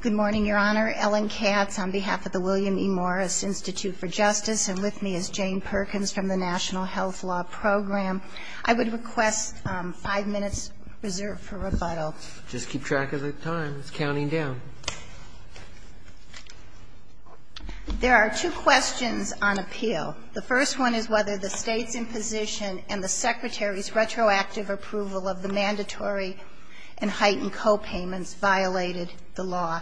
Good morning, Your Honor. Ellen Catts on behalf of the William E. Morris Institute for Justice, and with me is Jane Perkins from the National Health Law Program. I would request five minutes reserved for rebuttal. Just keep track of the time. It's counting down. There are two questions on appeal. The first one is whether the State's imposition and the Secretary's retroactive approval of the mandatory and heightened copayments violated the law,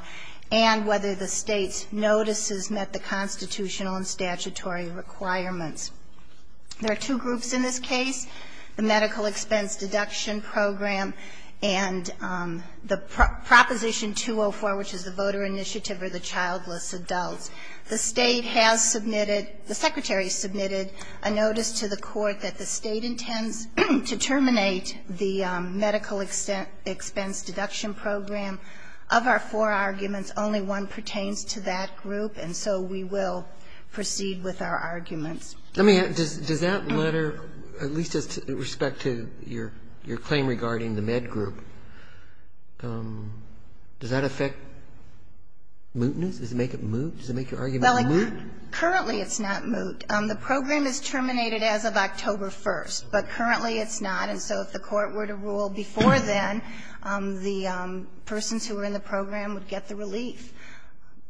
and whether the State's notices met the constitutional and statutory requirements. There are two groups in this case, the Medical Expense Deduction Program and the Proposition 204, which is the Voter Initiative for the Childless Adults. The State has submitted, the Secretary submitted a notice to the Court that the State intends to terminate the Medical Expense Deduction Program. Of our four arguments, only one pertains to that group, and so we will proceed with our arguments. Sotomayor, does that letter, at least with respect to your claim regarding the med group, does that affect mootness? Does it make it moot? Does it make your argument moot? Currently, it's not moot. The program is terminated as of October 1st, but currently it's not, and so if the Court were to rule before then, the persons who were in the program would get the relief.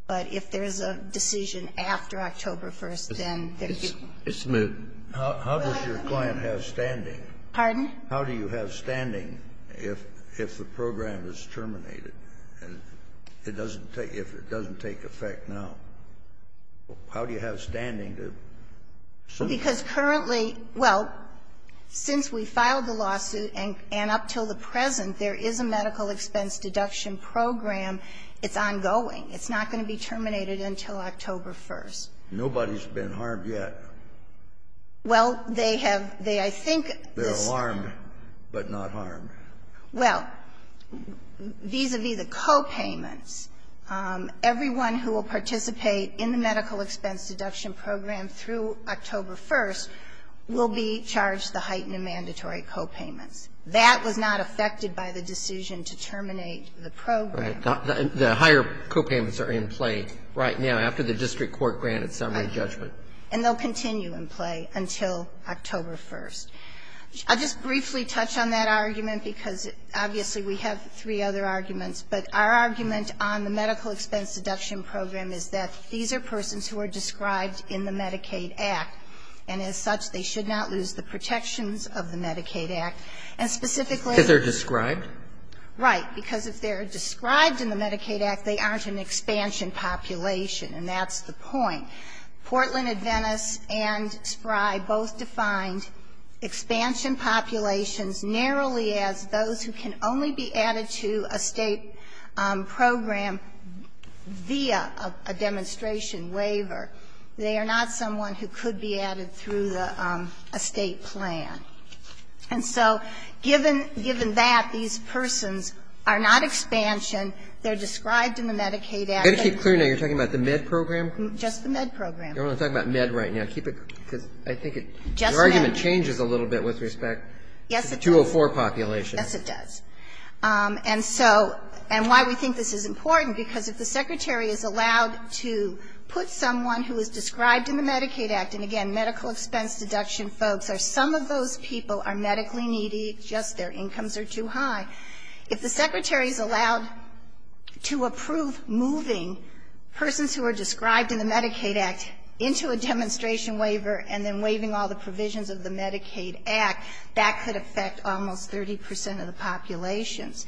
But if there's a decision after October 1st, then there's moot. It's moot. How does your claim have standing? Pardon? How do you have standing if the program is terminated? It doesn't take, if it doesn't take effect now, how do you have standing to sue? Because currently, well, since we filed the lawsuit and up until the present, there is a Medical Expense Deduction Program. It's ongoing. It's not going to be terminated until October 1st. Nobody's been harmed yet. Well, they have. They, I think. They're harmed, but not harmed. Well, vis-à-vis the copayments, everyone who will participate in the Medical Expense Deduction Program through October 1st will be charged the heightened and mandatory copayments. That was not affected by the decision to terminate the program. Right. The higher copayments are in play right now after the district court granted summary judgment. And they'll continue in play until October 1st. I'll just briefly touch on that argument because, obviously, we have three other arguments. But our argument on the Medical Expense Deduction Program is that these are persons who are described in the Medicaid Act, and as such, they should not lose the protections of the Medicaid Act. And specifically they're described. Right. Because if they're described in the Medicaid Act, they aren't an expansion population, and that's the point. Portland Adventist and Spry both defined expansion populations narrowly as those who can only be added to a State program via a demonstration waiver. They are not someone who could be added through a State plan. And so, given that, these persons are not expansion. They're described in the Medicaid Act. I've got to keep clear now. You're talking about the Med program? Just the Med program. You're only talking about Med right now. Keep it, because I think your argument changes a little bit with respect to the 204 population. Yes, it does. And so, and why we think this is important, because if the Secretary is allowed to put someone who is described in the Medicaid Act, and again, Medical Expense Deduction folks are some of those people are medically needy, just their incomes are too high. If the Secretary is allowed to approve moving persons who are described in the Medicaid Act into a demonstration waiver and then waiving all the provisions of the Medicaid Act, that could affect almost 30 percent of the populations.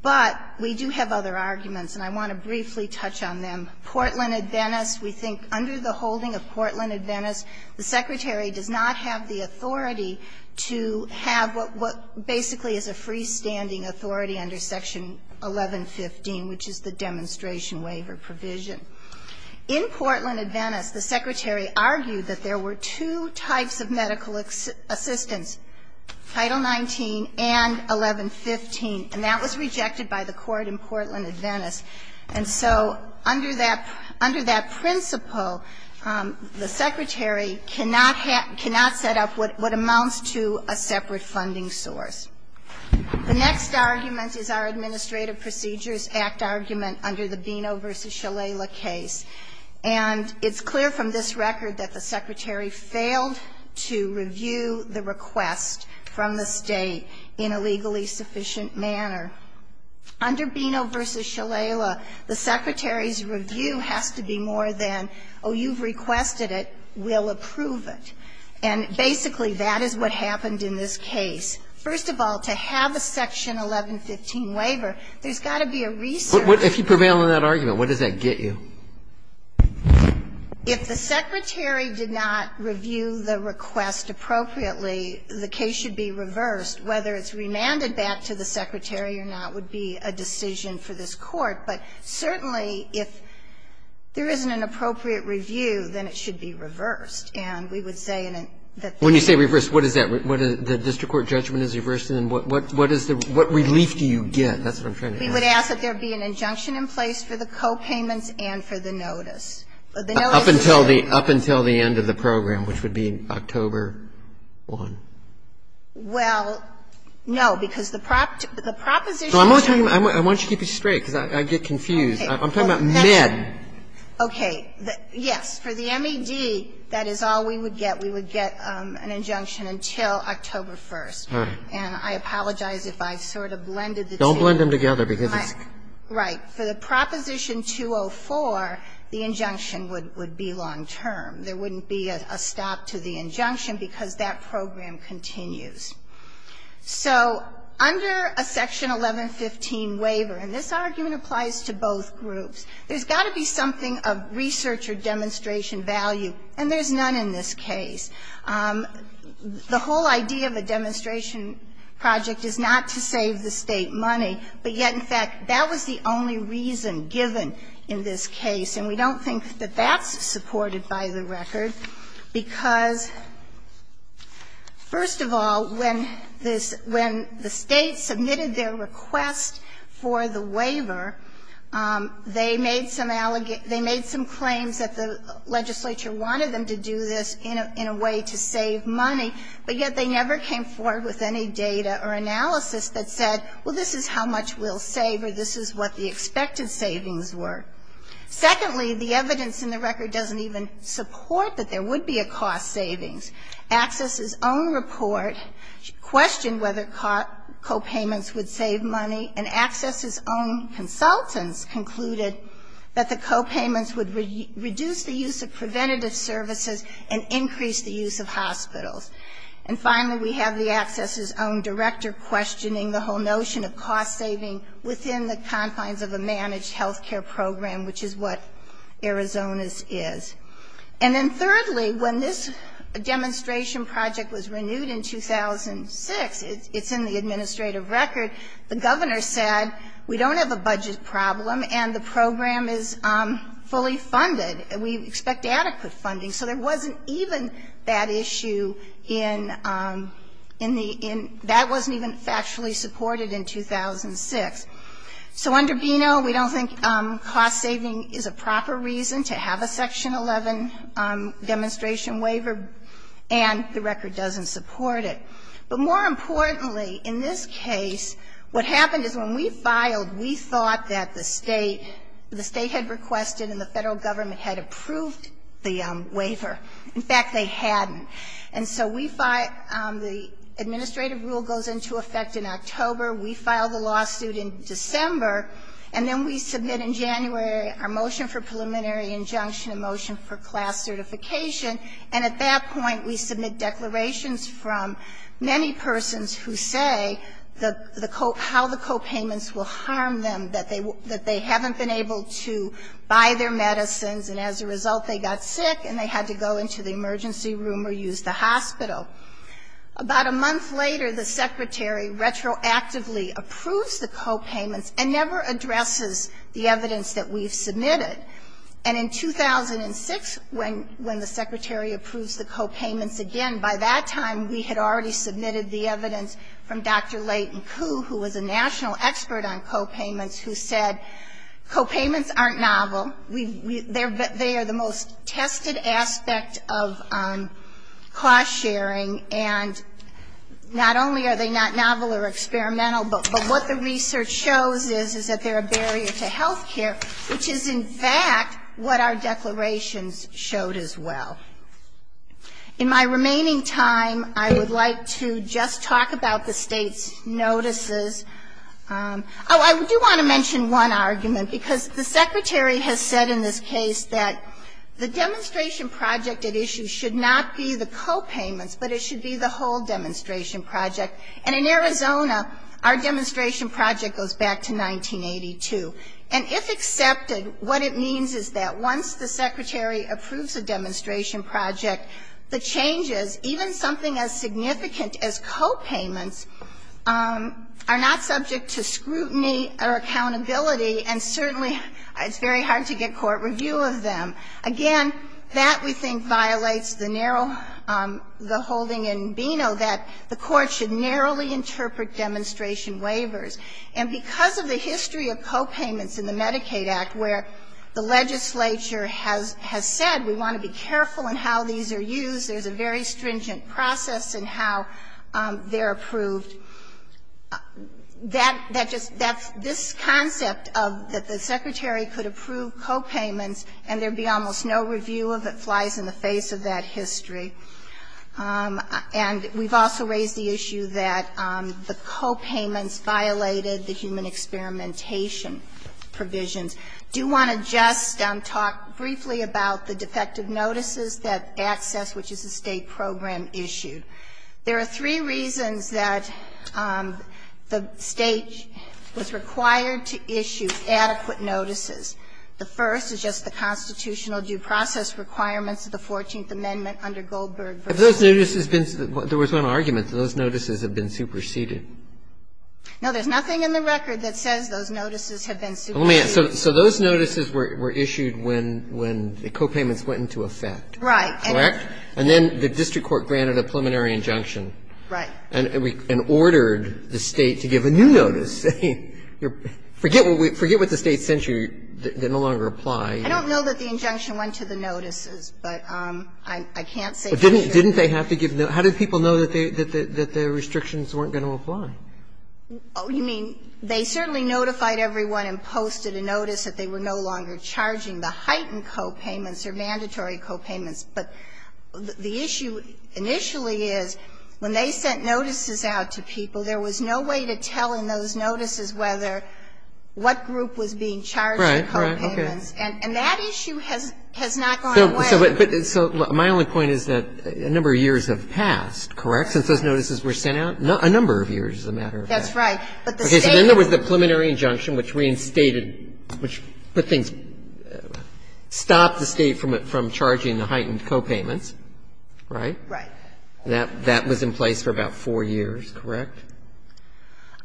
But we do have other arguments, and I want to briefly touch on them. Portland Adventist, we think under the holding of Portland Adventist, the Secretary does not have the authority to have what basically is a freestanding authority under Section 1115, which is the demonstration waiver provision. In Portland Adventist, the Secretary argued that there were two types of medical assistance, Title 19 and 1115, and that was rejected by the court in Portland Adventist. And so under that principle, the Secretary cannot set up what amounts to a separate funding source. The next argument is our Administrative Procedures Act argument under the Bino v. Shalala case. And it's clear from this record that the Secretary failed to review the request from the State in a legally sufficient manner. Under Bino v. Shalala, the Secretary's review has to be more than, oh, you've requested it, we'll approve it. And basically, that is what happened in this case. First of all, to have a Section 1115 waiver, there's got to be a research. If you prevail in that argument, what does that get you? If the Secretary did not review the request appropriately, the case should be reversed, whether it's remanded back to the Secretary or not would be a decision for this Court. But certainly, if there isn't an appropriate review, then it should be reversed. And we would say in a – When you say reversed, what is that? The district court judgment is reversed? And then what is the – what relief do you get? That's what I'm trying to ask. We would ask that there be an injunction in place for the copayments and for the notice. Up until the end of the program, which would be October 1. Well, no. Because the proposition – I'm only talking about – why don't you keep it straight, because I get confused. I'm talking about Med. Okay. Yes. For the MED, that is all we would get. We would get an injunction until October 1. All right. And I apologize if I sort of blended the two. Don't blend them together, because it's – Right. For the Proposition 204, the injunction would be long term. There wouldn't be a stop to the injunction, because that program continues. So under a Section 1115 waiver – and this argument applies to both groups – there's got to be something of research or demonstration value. And there's none in this case. The whole idea of a demonstration project is not to save the State money. But yet, in fact, that was the only reason given in this case. And we don't think that that's supported by the record, because, first of all, when the State submitted their request for the waiver, they made some claims that the legislature wanted them to do this in a way to save money. But yet, they never came forward with any data or analysis that said, well, this is how much we'll save, or this is what the expected savings were. Secondly, the evidence in the record doesn't even support that there would be a cost savings. ACCESS's own report questioned whether co-payments would save money, and ACCESS's own consultants concluded that the co-payments would reduce the use of preventative services and increase the use of hospitals. And finally, we have the ACCESS's own director questioning the whole notion of cost saving within the confines of a managed health care program, which is what Arizona's is. And then thirdly, when this demonstration project was renewed in 2006, it's in the administrative record, the governor said, we don't have a budget problem and the program is fully funded. We expect adequate funding. So there wasn't even that issue in the end. That wasn't even factually supported in 2006. So under B&O, we don't think cost saving is a proper reason to have a Section 11 demonstration waiver, and the record doesn't support it. But more importantly, in this case, what happened is when we filed, we thought that the State had requested and the Federal Government had approved the waiver. In fact, they hadn't. And so we filed, the administrative rule goes into effect in October. We filed the lawsuit in December, and then we submit in January our motion for preliminary injunction and motion for class certification. And at that point, we submit declarations from many persons who say how the co-payments will harm them, that they haven't been able to buy their medicines and as a result, they got sick and they had to go into the emergency room or use the hospital. About a month later, the Secretary retroactively approves the co-payments and never addresses the evidence that we've submitted. And in 2006, when the Secretary approves the co-payments again, by that time, we had already submitted the evidence from Dr. Leighton Koo, who was a national expert on co-payments, who said co-payments aren't novel. They are the most tested aspect of cost sharing. And not only are they not novel or experimental, but what the research shows is that they're a barrier to health care, which is in fact what our declarations showed as well. In my remaining time, I would like to just talk about the State's notices. Oh, I do want to mention one argument, because the Secretary has said in this case that the demonstration project at issue should not be the co-payments, but it should be the whole demonstration project. And in Arizona, our demonstration project goes back to 1982. And if accepted, what it means is that once the Secretary approves a demonstration project, the changes, even something as significant as co-payments, are not subject to scrutiny or accountability, and certainly it's very hard to get court review of them. Again, that, we think, violates the narrow, the holding in Beno that the Court should narrowly interpret demonstration waivers. And because of the history of co-payments in the Medicaid Act, where the legislature has said we want to be careful in how these are used, there's a very stringent process in how they're approved. That, that just, that's, this concept of that the Secretary could approve co-payments and there be almost no review of it flies in the face of that history. And we've also raised the issue that the co-payments violated the human experimentation provisions. I do want to just talk briefly about the defective notices that ACCESS, which is a State program, issued. There are three reasons that the State was required to issue adequate notices. The first is just the constitutional due process requirements of the Fourteenth Amendment under Goldberg v. Roberts. Roberts. There was one argument. Those notices have been superseded. No, there's nothing in the record that says those notices have been superseded. So those notices were issued when, when the co-payments went into effect. Right. Correct? And then the district court granted a preliminary injunction. Right. And we, and ordered the State to give a new notice. Forget what the State sent you. They no longer apply. I don't know that the injunction went to the notices, but I, I can't say for sure. Didn't, didn't they have to give, how did people know that the, that the, that the restrictions weren't going to apply? Oh, you mean, they certainly notified everyone and posted a notice that they were no longer charging the heightened co-payments or mandatory co-payments. But the issue initially is when they sent notices out to people, there was no way to tell in those notices whether, what group was being charged the co-payments. Right. Right. Okay. And, and that issue has, has not gone away. So, but, so my only point is that a number of years have passed, correct, since those notices were sent out? A number of years, as a matter of fact. That's right. But the State was. Okay. So then there was the preliminary injunction which reinstated, which put things in place for about four years, correct?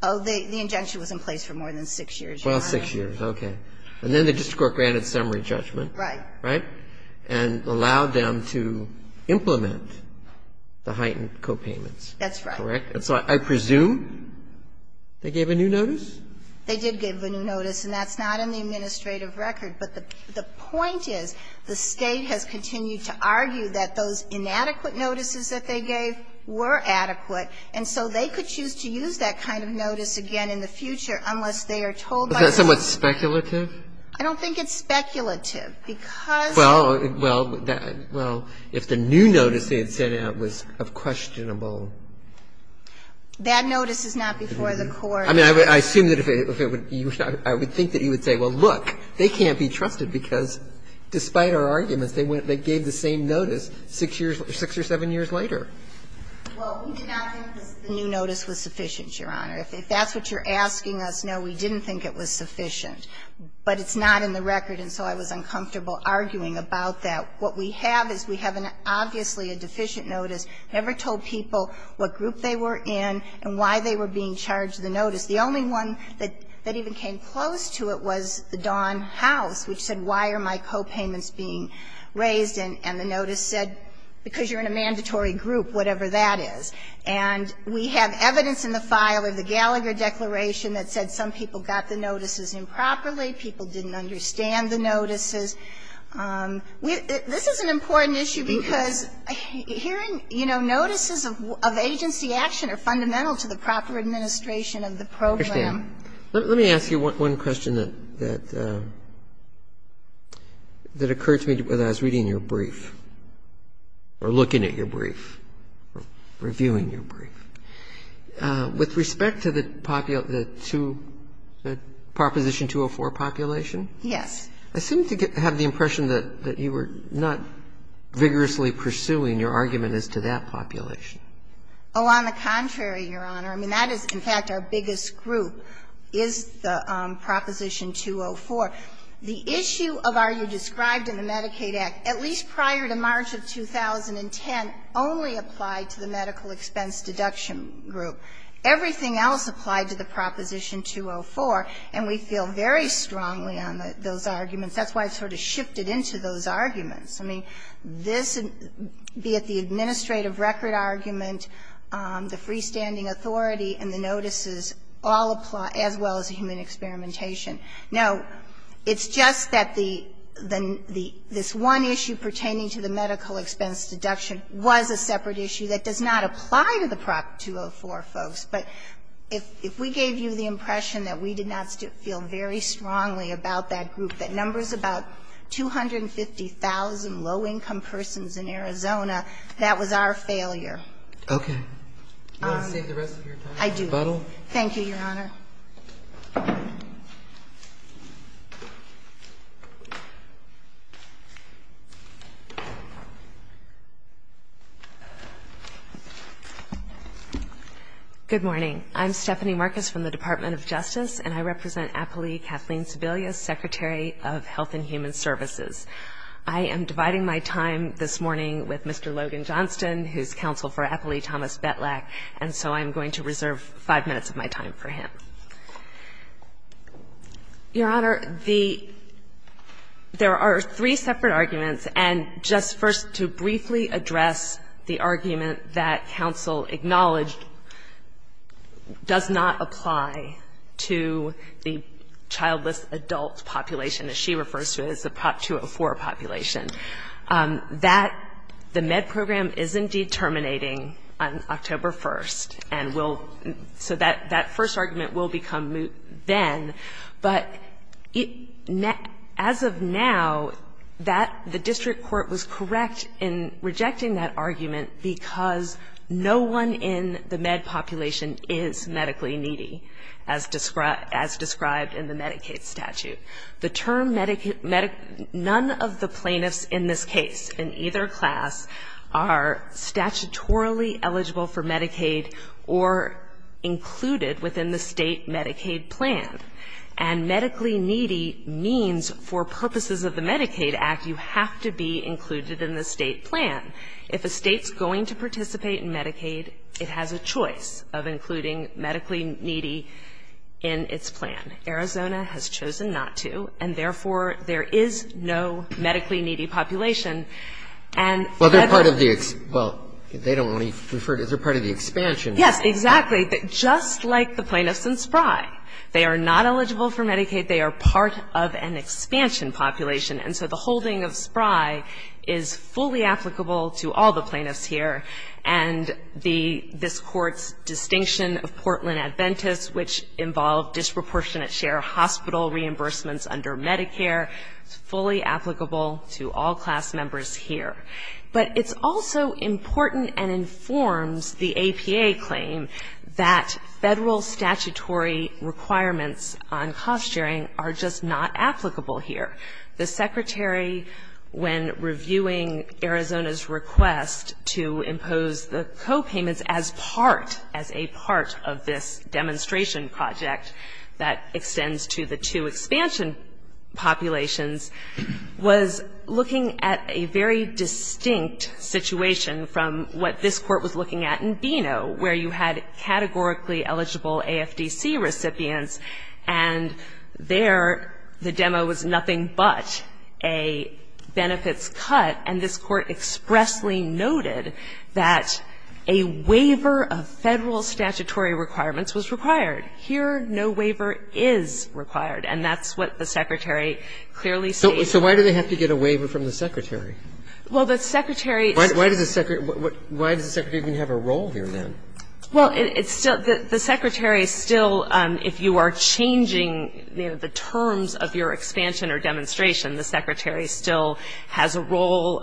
Oh, the, the injunction was in place for more than six years, Your Honor. Well, six years. Okay. And then the district court granted summary judgment. Right. Right. And allowed them to implement the heightened co-payments. That's right. Correct? And so I presume they gave a new notice? It's not in the administrative records. But the, the point is the State has continued to argue that those inadequate notices that they gave were adequate, and so they could choose to use that kind of notice again in the future unless they are told by the State. Is that somewhat speculative? I don't think it's speculative, because. Well, well, that, well, if the new notice they had sent out was of questionable. That notice is not before the court. I mean, I assume that if it would, I would think that you would say, well, look, they can't be trusted, because despite our arguments, they gave the same notice six years, six or seven years later. Well, we did not think the new notice was sufficient, Your Honor. If that's what you're asking us, no, we didn't think it was sufficient. But it's not in the record, and so I was uncomfortable arguing about that. What we have is we have an obviously a deficient notice. I never told people what group they were in and why they were being charged the notice. The only one that even came close to it was the Don House, which said, why are my copayments being raised? And the notice said, because you're in a mandatory group, whatever that is. And we have evidence in the file of the Gallagher Declaration that said some people got the notices improperly, people didn't understand the notices. This is an important issue, because hearing notices of agency action are fundamental to the proper administration of the program. Let me ask you one question that occurred to me as I was reading your brief, or looking at your brief, reviewing your brief. With respect to the proposition 204 population? Yes. I seem to have the impression that you were not vigorously pursuing your argument as to that population. Oh, on the contrary, Your Honor. I mean, that is, in fact, our biggest group, is the Proposition 204. The issue of are you described in the Medicaid Act, at least prior to March of 2010, only applied to the medical expense deduction group. Everything else applied to the Proposition 204, and we feel very strongly on those arguments. That's why I sort of shifted into those arguments. I mean, this, be it the administrative record argument, the freestanding authority, and the notices, all apply, as well as the human experimentation. Now, it's just that the one issue pertaining to the medical expense deduction was a separate issue that does not apply to the Prop 204, folks. But if we gave you the impression that we did not feel very strongly about that group, that numbers about 250,000 low-income persons in Arizona, that was our failure. Okay. Do you want to save the rest of your time, Ms. Buttle? I do. Thank you, Your Honor. Good morning. I'm Stephanie Marcus from the Department of Justice, and I represent Appley Kathleen Sebelius, Secretary of Health and Human Services. I am dividing my time this morning with Mr. Logan Johnston, who's counsel for Appley Thomas Betlack, and so I'm going to reserve five minutes of my time for him. Thank you, Ms. Buttle. Thank you, Ms. Buttle. Thank you, Ms. Buttle. Your Honor, the – there are three separate arguments, and just first to briefly address the argument that counsel acknowledged does not apply to the childless adult population, as she refers to it as the Prop 204 population. That – the MED program is, indeed, terminating on October 1st, and will – so that first argument will become moot then, but as of now, that – the district court was correct in rejecting that argument because no one in the MED population is medically needy, as described in the Medicaid statute. The term – none of the plaintiffs in this case, in either class, are statutorily eligible for Medicaid or included within the state Medicaid plan. And medically needy means for purposes of the Medicaid Act, you have to be included in the state plan. If a state's going to participate in Medicaid, it has a choice of including medically needy in its plan. Arizona has chosen not to, and therefore, there is no medically needy population. And that the – Well, they're part of the – well, they don't want to be referred – they're part of the expansion. Yes, exactly. Just like the plaintiffs in Spry, they are not eligible for Medicaid. They are part of an expansion population. And so the holding of Spry is fully applicable to all the plaintiffs here, and the – this Court's distinction of Portland Adventist, which involved disproportionate hospital reimbursements under Medicare, is fully applicable to all class members here. But it's also important and informs the APA claim that Federal statutory requirements on cost sharing are just not applicable here. The Secretary, when reviewing Arizona's request to impose the copayments as part – which extends to the two expansion populations, was looking at a very distinct situation from what this Court was looking at in Beano, where you had categorically eligible AFDC recipients. And there, the demo was nothing but a benefits cut, and this Court expressly noted that a waiver of Federal statutory requirements was required. Here, no waiver is required. And that's what the Secretary clearly stated. So why do they have to get a waiver from the Secretary? Well, the Secretary – Why does the Secretary even have a role here, then? Well, it's still – the Secretary still, if you are changing, you know, the terms of your expansion or demonstration, the Secretary still has a role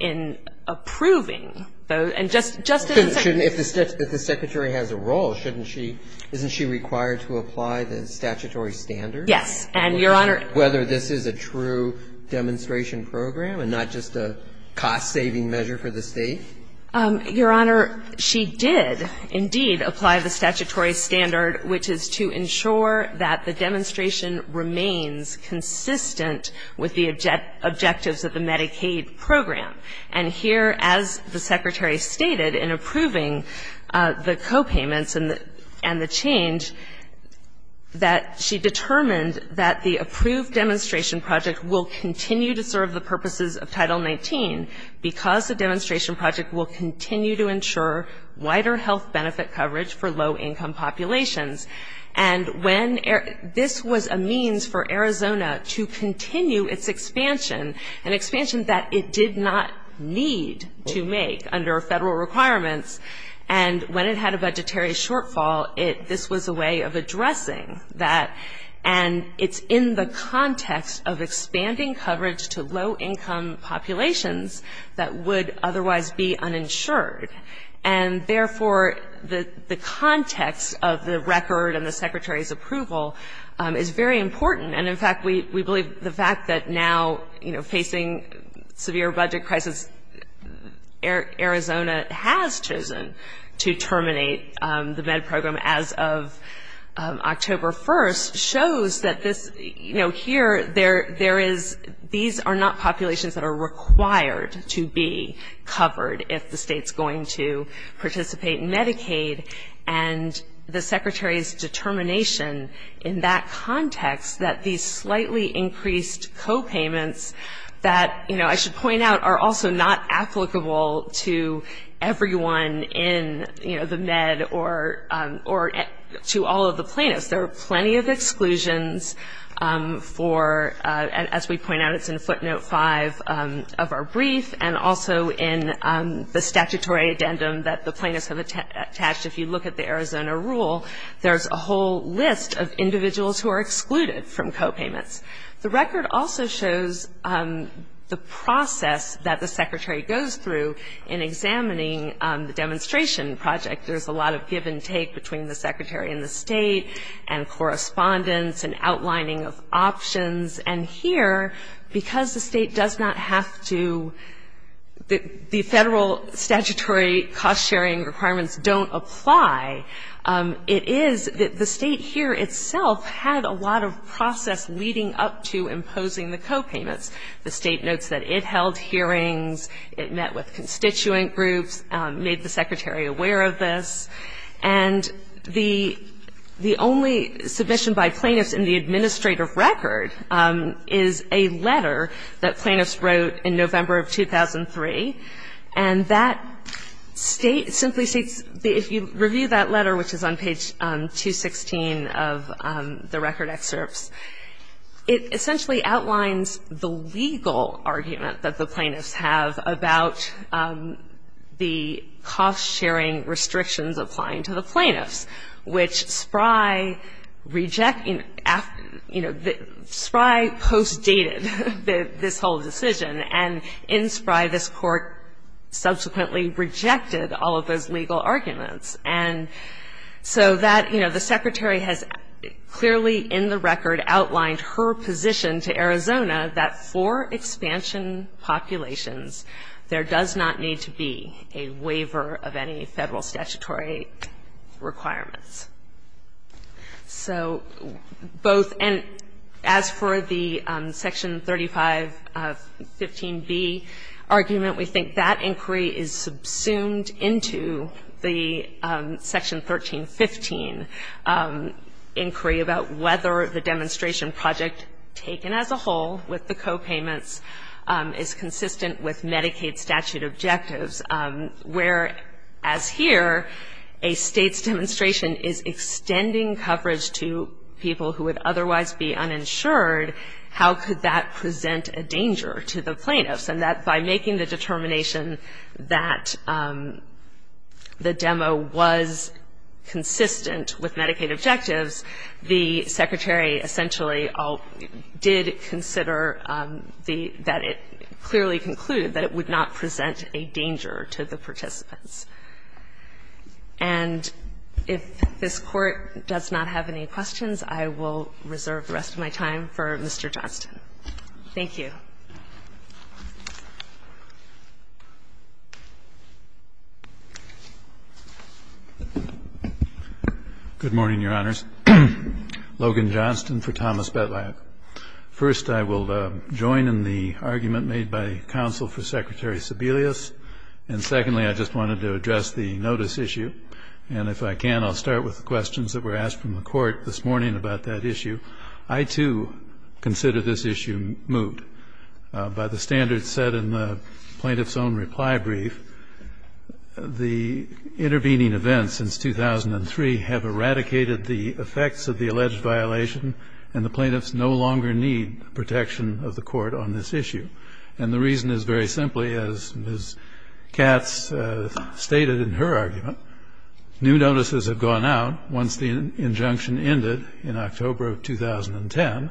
in approving those. And just as a – But shouldn't – if the Secretary has a role, shouldn't she – isn't she required to apply the statutory standard? Yes. And, Your Honor – Whether this is a true demonstration program and not just a cost-saving measure for the State? Your Honor, she did indeed apply the statutory standard, which is to ensure that the demonstration remains consistent with the objectives of the Medicaid program. And here, as the Secretary stated in approving the copayments and the – and the change, that she determined that the approved demonstration project will continue to serve the purposes of Title 19 because the demonstration project will continue to ensure wider health benefit coverage for low-income populations. And when – this was a means for Arizona to continue its expansion, an expansion that it did not need to make under federal requirements. And when it had a budgetary shortfall, it – this was a way of addressing that. And it's in the context of expanding coverage to low-income populations that would otherwise be uninsured. And therefore, the context of the record and the Secretary's approval is very important. And in fact, we believe the fact that now, you know, facing severe budget crisis, Arizona has chosen to terminate the MED program as of October 1st shows that this – you know, here, there is – these are not populations that are required to be covered if the State's going to participate in Medicaid. And the Secretary's determination in that context that these slightly increased copayments that, you know, I should point out, are also not applicable to everyone in, you know, the MED or to all of the plaintiffs. There are plenty of exclusions for – as we point out, it's in footnote five of our brief and also in the statutory addendum that the plaintiffs have attached. If you look at the Arizona rule, there's a whole list of individuals who are excluded from copayments. The record also shows the process that the Secretary goes through in examining the demonstration project. There's a lot of give and take between the Secretary and the State and correspondence and outlining of options. And here, because the State does not have to – the federal statutory cost sharing requirements don't apply, it is that the State here itself had a lot of process leading up to imposing the copayments. The State notes that it held hearings, it met with constituent groups, made the Secretary aware of this. And the only submission by plaintiffs in the administrative record is a letter that plaintiffs wrote in November of 2003. And that State simply seeks – if you review that letter, which is on page 216 of the record excerpts, it essentially outlines the legal argument that the plaintiffs have about the cost sharing restrictions of copayments. And so the Secretary has clearly in the record outlined her position to Arizona that for expansion populations, there does not need to be a waiver of any federal statutory requirements. So both – and as for the Section 3515B argument, we think that inquiry is subsumed into the Section 1315 inquiry about whether the demonstration project taken as a whole with the copayments is consistent with Medicaid statute objectives, where as here, a State's demonstration is extending coverage to people who would otherwise be uninsured, how could that present a danger to the plaintiffs? And that by making the determination that the demo was consistent with Medicaid objectives, the Secretary essentially did consider that it clearly concluded that it would not be a waiver of any federal statutory requirements. And if this Court does not have any questions, I will reserve the rest of my time for Mr. Johnston. Thank you. Johnston. Good morning, Your Honors. Logan Johnston for Thomas Bettelheim. First, I will join in the argument made by counsel for Secretary Sebelius. And secondly, I just wanted to address the notice issue. And if I can, I'll start with the questions that were asked from the Court this morning about that issue. I, too, consider this issue moot. By the standards set in the plaintiff's own reply brief, the intervening events since 2003 have eradicated the effects of the alleged violation, and the plaintiffs no longer need protection of the Court on this issue. And the reason is very simply, as Ms. Katz stated in her argument, new notices have gone out once the injunction ended in October of 2010.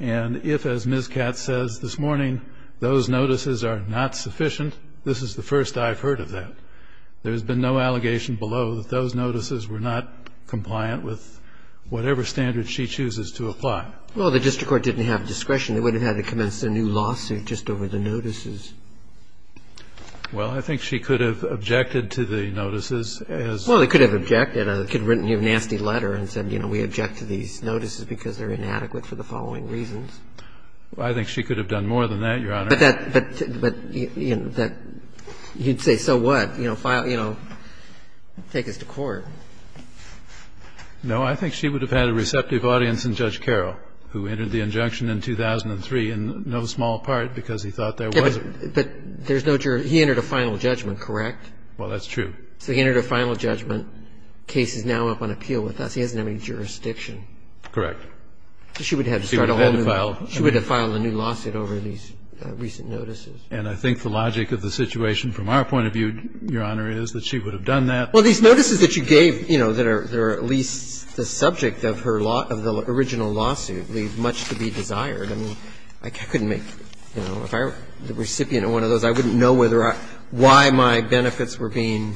And if, as Ms. Katz says this morning, those notices are not sufficient, this is the first I've heard of that. There has been no allegation below that those notices were not compliant with whatever standard she chooses to apply. Well, the district court didn't have discretion. They would have had to commence a new lawsuit just over the notices. Well, I think she could have objected to the notices as they were. Well, they could have objected. They could have written you a nasty letter and said, you know, we object to these notices because they're inadequate for the following reasons. I think she could have done more than that, Your Honor. But that you'd say, so what? You know, take us to court. No, I think she would have had a receptive audience in Judge Carroll, who entered the injunction in 2003 in no small part because he thought there wasn't. But there's no jury. He entered a final judgment, correct? Well, that's true. So he entered a final judgment. The case is now up on appeal with us. He doesn't have any jurisdiction. Correct. She would have had to start a whole new lawsuit. She would have had to file a new lawsuit over these recent notices. And I think the logic of the situation from our point of view, Your Honor, is that she would have done that. Well, these notices that you gave, you know, that are at least the subject of her law of the original lawsuit leave much to be desired. I mean, I couldn't make, you know, if I were the recipient of one of those, I wouldn't know whether I why my benefits were being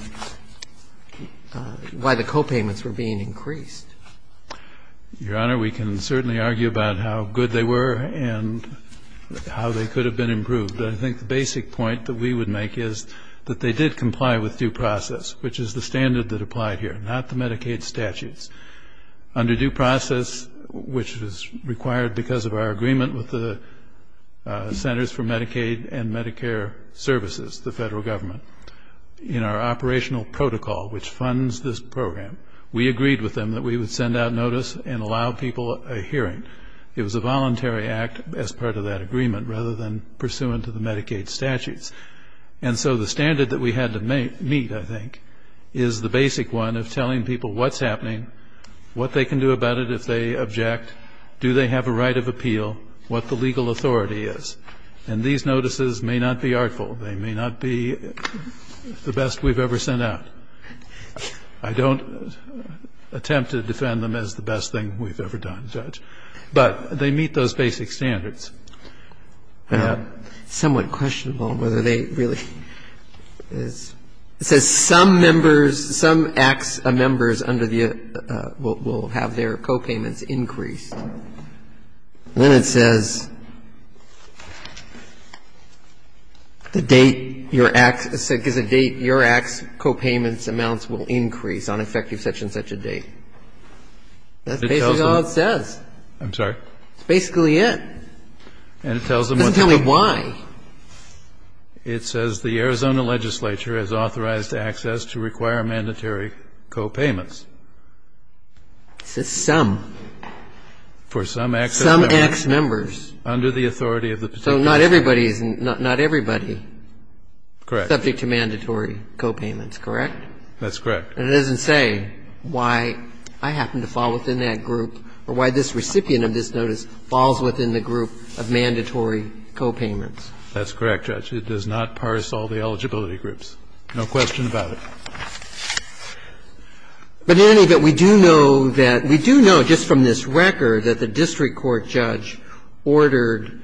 why the copayments were being increased. Your Honor, we can certainly argue about how good they were and how they could have been improved. But I think the basic point that we would make is that they did comply with due process, which is the standard that applied here, not the Medicaid statutes. Under due process, which was required because of our agreement with the Centers for Medicaid and Medicare Services, the Federal Government, in our operational protocol, which funds this program, we agreed with them that we would send out notice and allow people a hearing. It was a voluntary act as part of that agreement rather than pursuant to the Medicaid statutes. And so the standard that we had to meet, I think, is the basic one of telling people what's happening, what they can do about it if they object, do they have a right of appeal, what the legal authority is. And these notices may not be artful. They may not be the best we've ever sent out. I don't attempt to defend them as the best thing we've ever done, Judge. But they meet those basic standards. And that ---- Somewhat questionable whether they really ---- it says some members, some members under the ---- will have their copayments increased. And then it says the date your act ---- because the date your act's copayments amounts will increase on effective such and such a date. That's basically all it says. I'm sorry? It's basically it. And it tells them what's happening. It doesn't tell me why. It says the Arizona legislature has authorized access to require mandatory copayments. It says some. For some ex-members. Some ex-members. Under the authority of the particular ---- So not everybody is in ---- not everybody. Correct. Subject to mandatory copayments, correct? That's correct. And it doesn't say why I happen to fall within that group or why this recipient of this notice falls within the group of mandatory copayments. That's correct, Judge. It does not parse all the eligibility groups. No question about it. But in any event, we do know that we do know just from this record that the district court judge ordered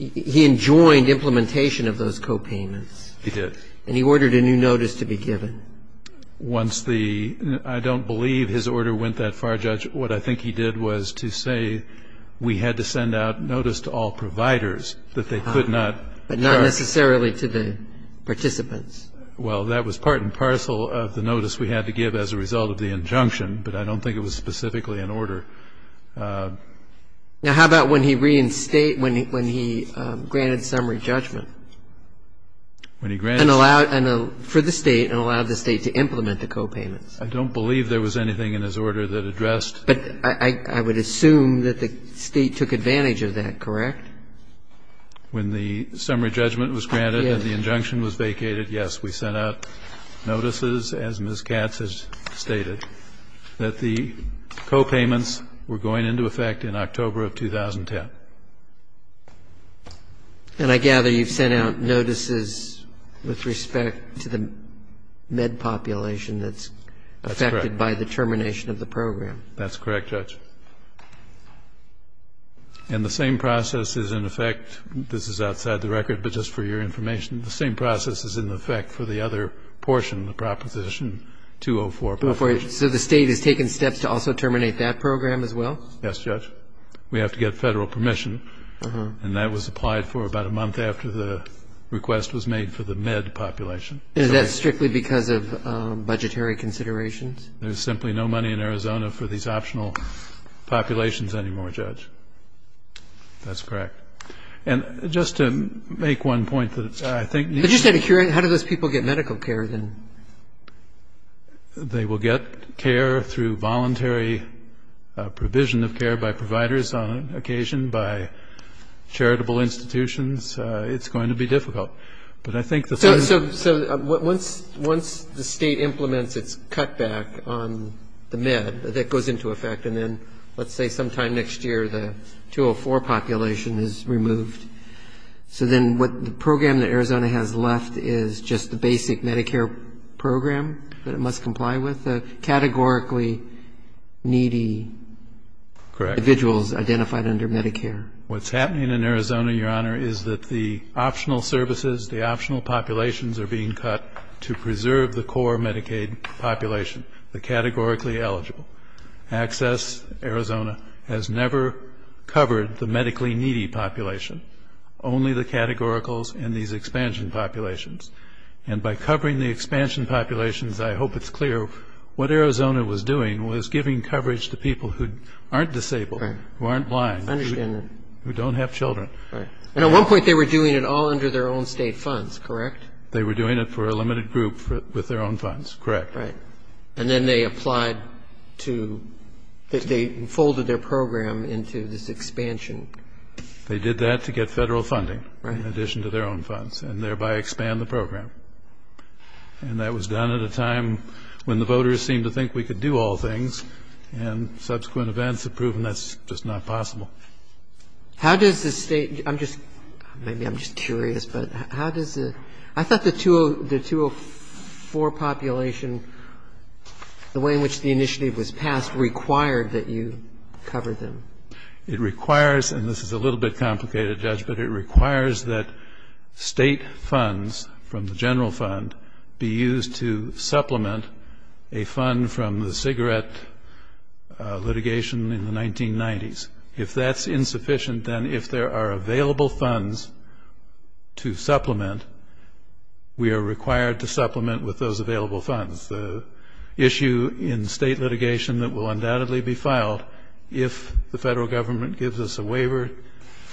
---- he enjoined implementation of those copayments. He did. And he ordered a new notice to be given. Once the ---- I don't believe his order went that far, Judge. What I think he did was to say we had to send out notice to all providers that they could not ---- But not necessarily to the participants. Well, that was part and parcel of the notice we had to give as a result of the injunction, but I don't think it was specifically an order. Now, how about when he reinstated ---- when he granted summary judgment? When he granted ---- And allowed for the State and allowed the State to implement the copayments. I don't believe there was anything in his order that addressed ---- But I would assume that the State took advantage of that, correct? When the summary judgment was granted and the injunction was vacated, yes. We sent out notices, as Ms. Katz has stated, that the copayments were going into effect in October of 2010. And I gather you've sent out notices with respect to the med population that's affected by the termination of the program. That's correct, Judge. And the same process is in effect ---- this is outside the record, but just for your information, the same process is in effect for the other portion of the Proposition 204. So the State has taken steps to also terminate that program as well? Yes, Judge. We have to get Federal permission. And that was applied for about a month after the request was made for the med population. Is that strictly because of budgetary considerations? There's simply no money in Arizona for these optional populations anymore, Judge. That's correct. And just to make one point that I think you should ---- But you said a cure. How do those people get medical care, then? They will get care through voluntary provision of care by providers on occasion, by charitable institutions. It's going to be difficult. But I think the ---- So once the State implements its cutback on the med, that goes into effect, and then let's say sometime next year the 204 population is removed. So then what the program that Arizona has left is just the basic Medicare program that it must comply with? The categorically needy individuals identified under Medicare. Correct. What's happening in Arizona, Your Honor, is that the optional services, the optional populations are being cut to preserve the core Medicaid population, the categorically eligible. Access Arizona has never covered the medically needy population, only the categoricals in these expansion populations. And by covering the expansion populations, I hope it's clear, what Arizona was doing was giving coverage to people who aren't disabled, who aren't blind, who don't have children. And at one point they were doing it all under their own state funds, correct? They were doing it for a limited group with their own funds, correct. Right. And then they applied to, they folded their program into this expansion. They did that to get federal funding in addition to their own funds and thereby expand the program. And that was done at a time when the voters seemed to think we could do all things, and subsequent events have proven that's just not possible. How does the State, I'm just, maybe I'm just curious, but how does the, I thought the 204 population, the way in which the initiative was passed, required that you cover them. It requires, and this is a little bit complicated, Judge, but it requires that State funds from the general fund be used to supplement a fund from the cigarette litigation in the 1990s. If that's insufficient, then if there are available funds to supplement, we are required to supplement with those available funds. The issue in State litigation that will undoubtedly be filed if the federal government gives us a waiver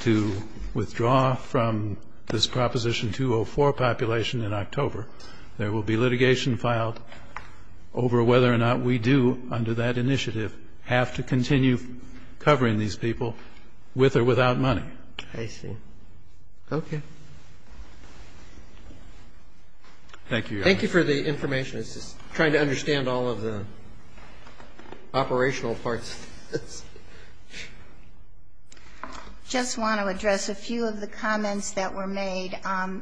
to withdraw from this Proposition 204 population in October, there will be litigation filed over whether or not we do, under that initiative, have to continue covering these people with or without money. I see. Okay. Thank you, Your Honor. Thank you for the information. I was just trying to understand all of the operational parts. I just want to address a few of the comments that were made.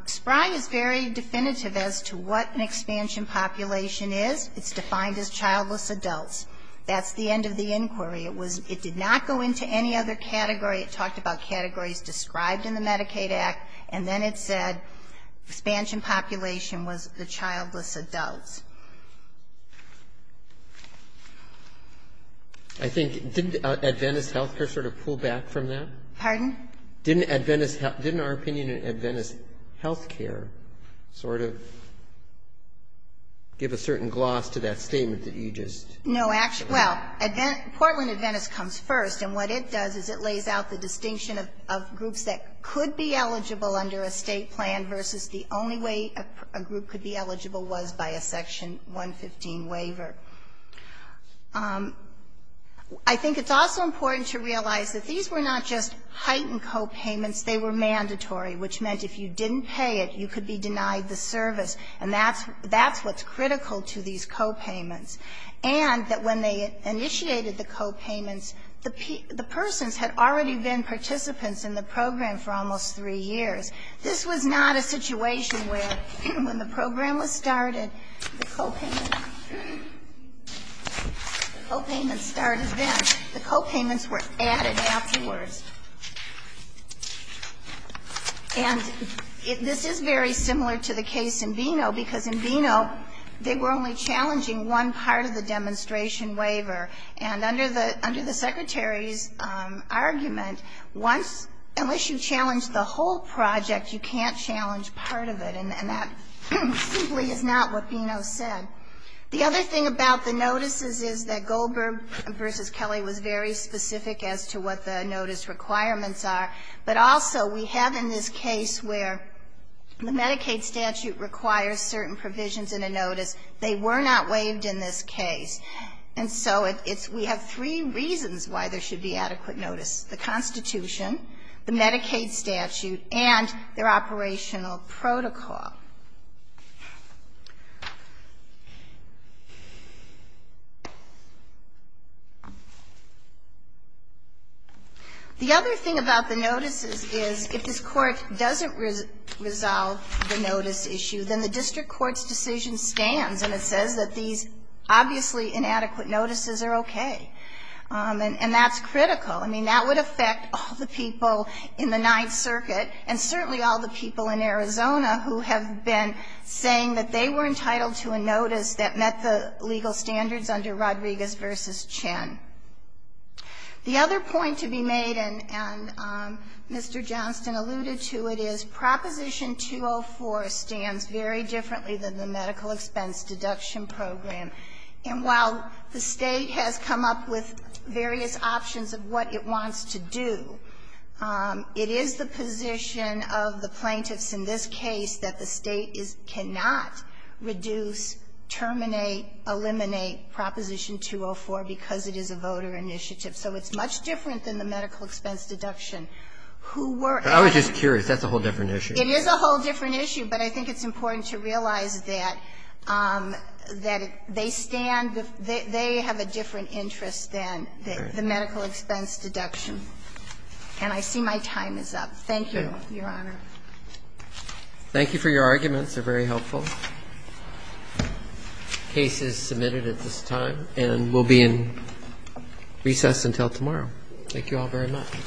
SPRY is very definitive as to what an expansion population is. It's defined as childless adults. That's the end of the inquiry. It did not go into any other category. It talked about categories described in the Medicaid Act, and then it said expansion population was the childless adults. I think, didn't Adventist Health Care sort of pull back from that? Pardon? Didn't Adventist Health Care, didn't our opinion in Adventist Health Care sort of give a certain gloss to that statement that you just? No. Well, Portland Adventist comes first, and what it does is it lays out the distinction of groups that could be eligible under a State plan versus the only way a group could be eligible was by a Section 115 waiver. I think it's also important to realize that these were not just heightened copayments. They were mandatory, which meant if you didn't pay it, you could be denied the service. And that's what's critical to these copayments. And that when they initiated the copayments, the persons had already been participants in the program for almost three years. This was not a situation where when the program was started, the copayments started then. The copayments were added afterwards. And this is very similar to the case in Veno, because in Veno they were only challenging one part of the demonstration waiver. And under the Secretary's argument, once, unless you challenge the whole project, you can't challenge part of it. And that simply is not what Veno said. The other thing about the notices is that Goldberg v. Kelly was very specific as to what the notice requirements are, but also we have in this case where the Medicaid statute requires certain provisions in a notice. They were not waived in this case. And so it's we have three reasons why there should be adequate notice, the Constitution, the Medicaid statute, and their operational protocol. The other thing about the notices is if this Court doesn't resolve the notice issue, then the district court's decision stands, and it says that these obviously inadequate notices are okay. And that's critical. I mean, that would affect all the people in the Ninth Circuit and certainly all the people in Arizona who have been involved in this case. And so we have been saying that they were entitled to a notice that met the legal standards under Rodriguez v. Chen. The other point to be made, and Mr. Johnston alluded to it, is Proposition 204 stands very differently than the medical expense deduction program. And while the State has come up with various options of what it wants to do, it is the position of the plaintiffs in this case that the State cannot reduce, terminate, eliminate Proposition 204 because it is a voter initiative. So it's much different than the medical expense deduction. Who were at the time. Roberts. I was just curious. That's a whole different issue. It is a whole different issue. But I think it's important to realize that they stand, they have a different interest than the medical expense deduction. And I see my time is up. Thank you, Your Honor. Thank you for your arguments. They're very helpful. The case is submitted at this time and will be in recess until tomorrow. Thank you all very much.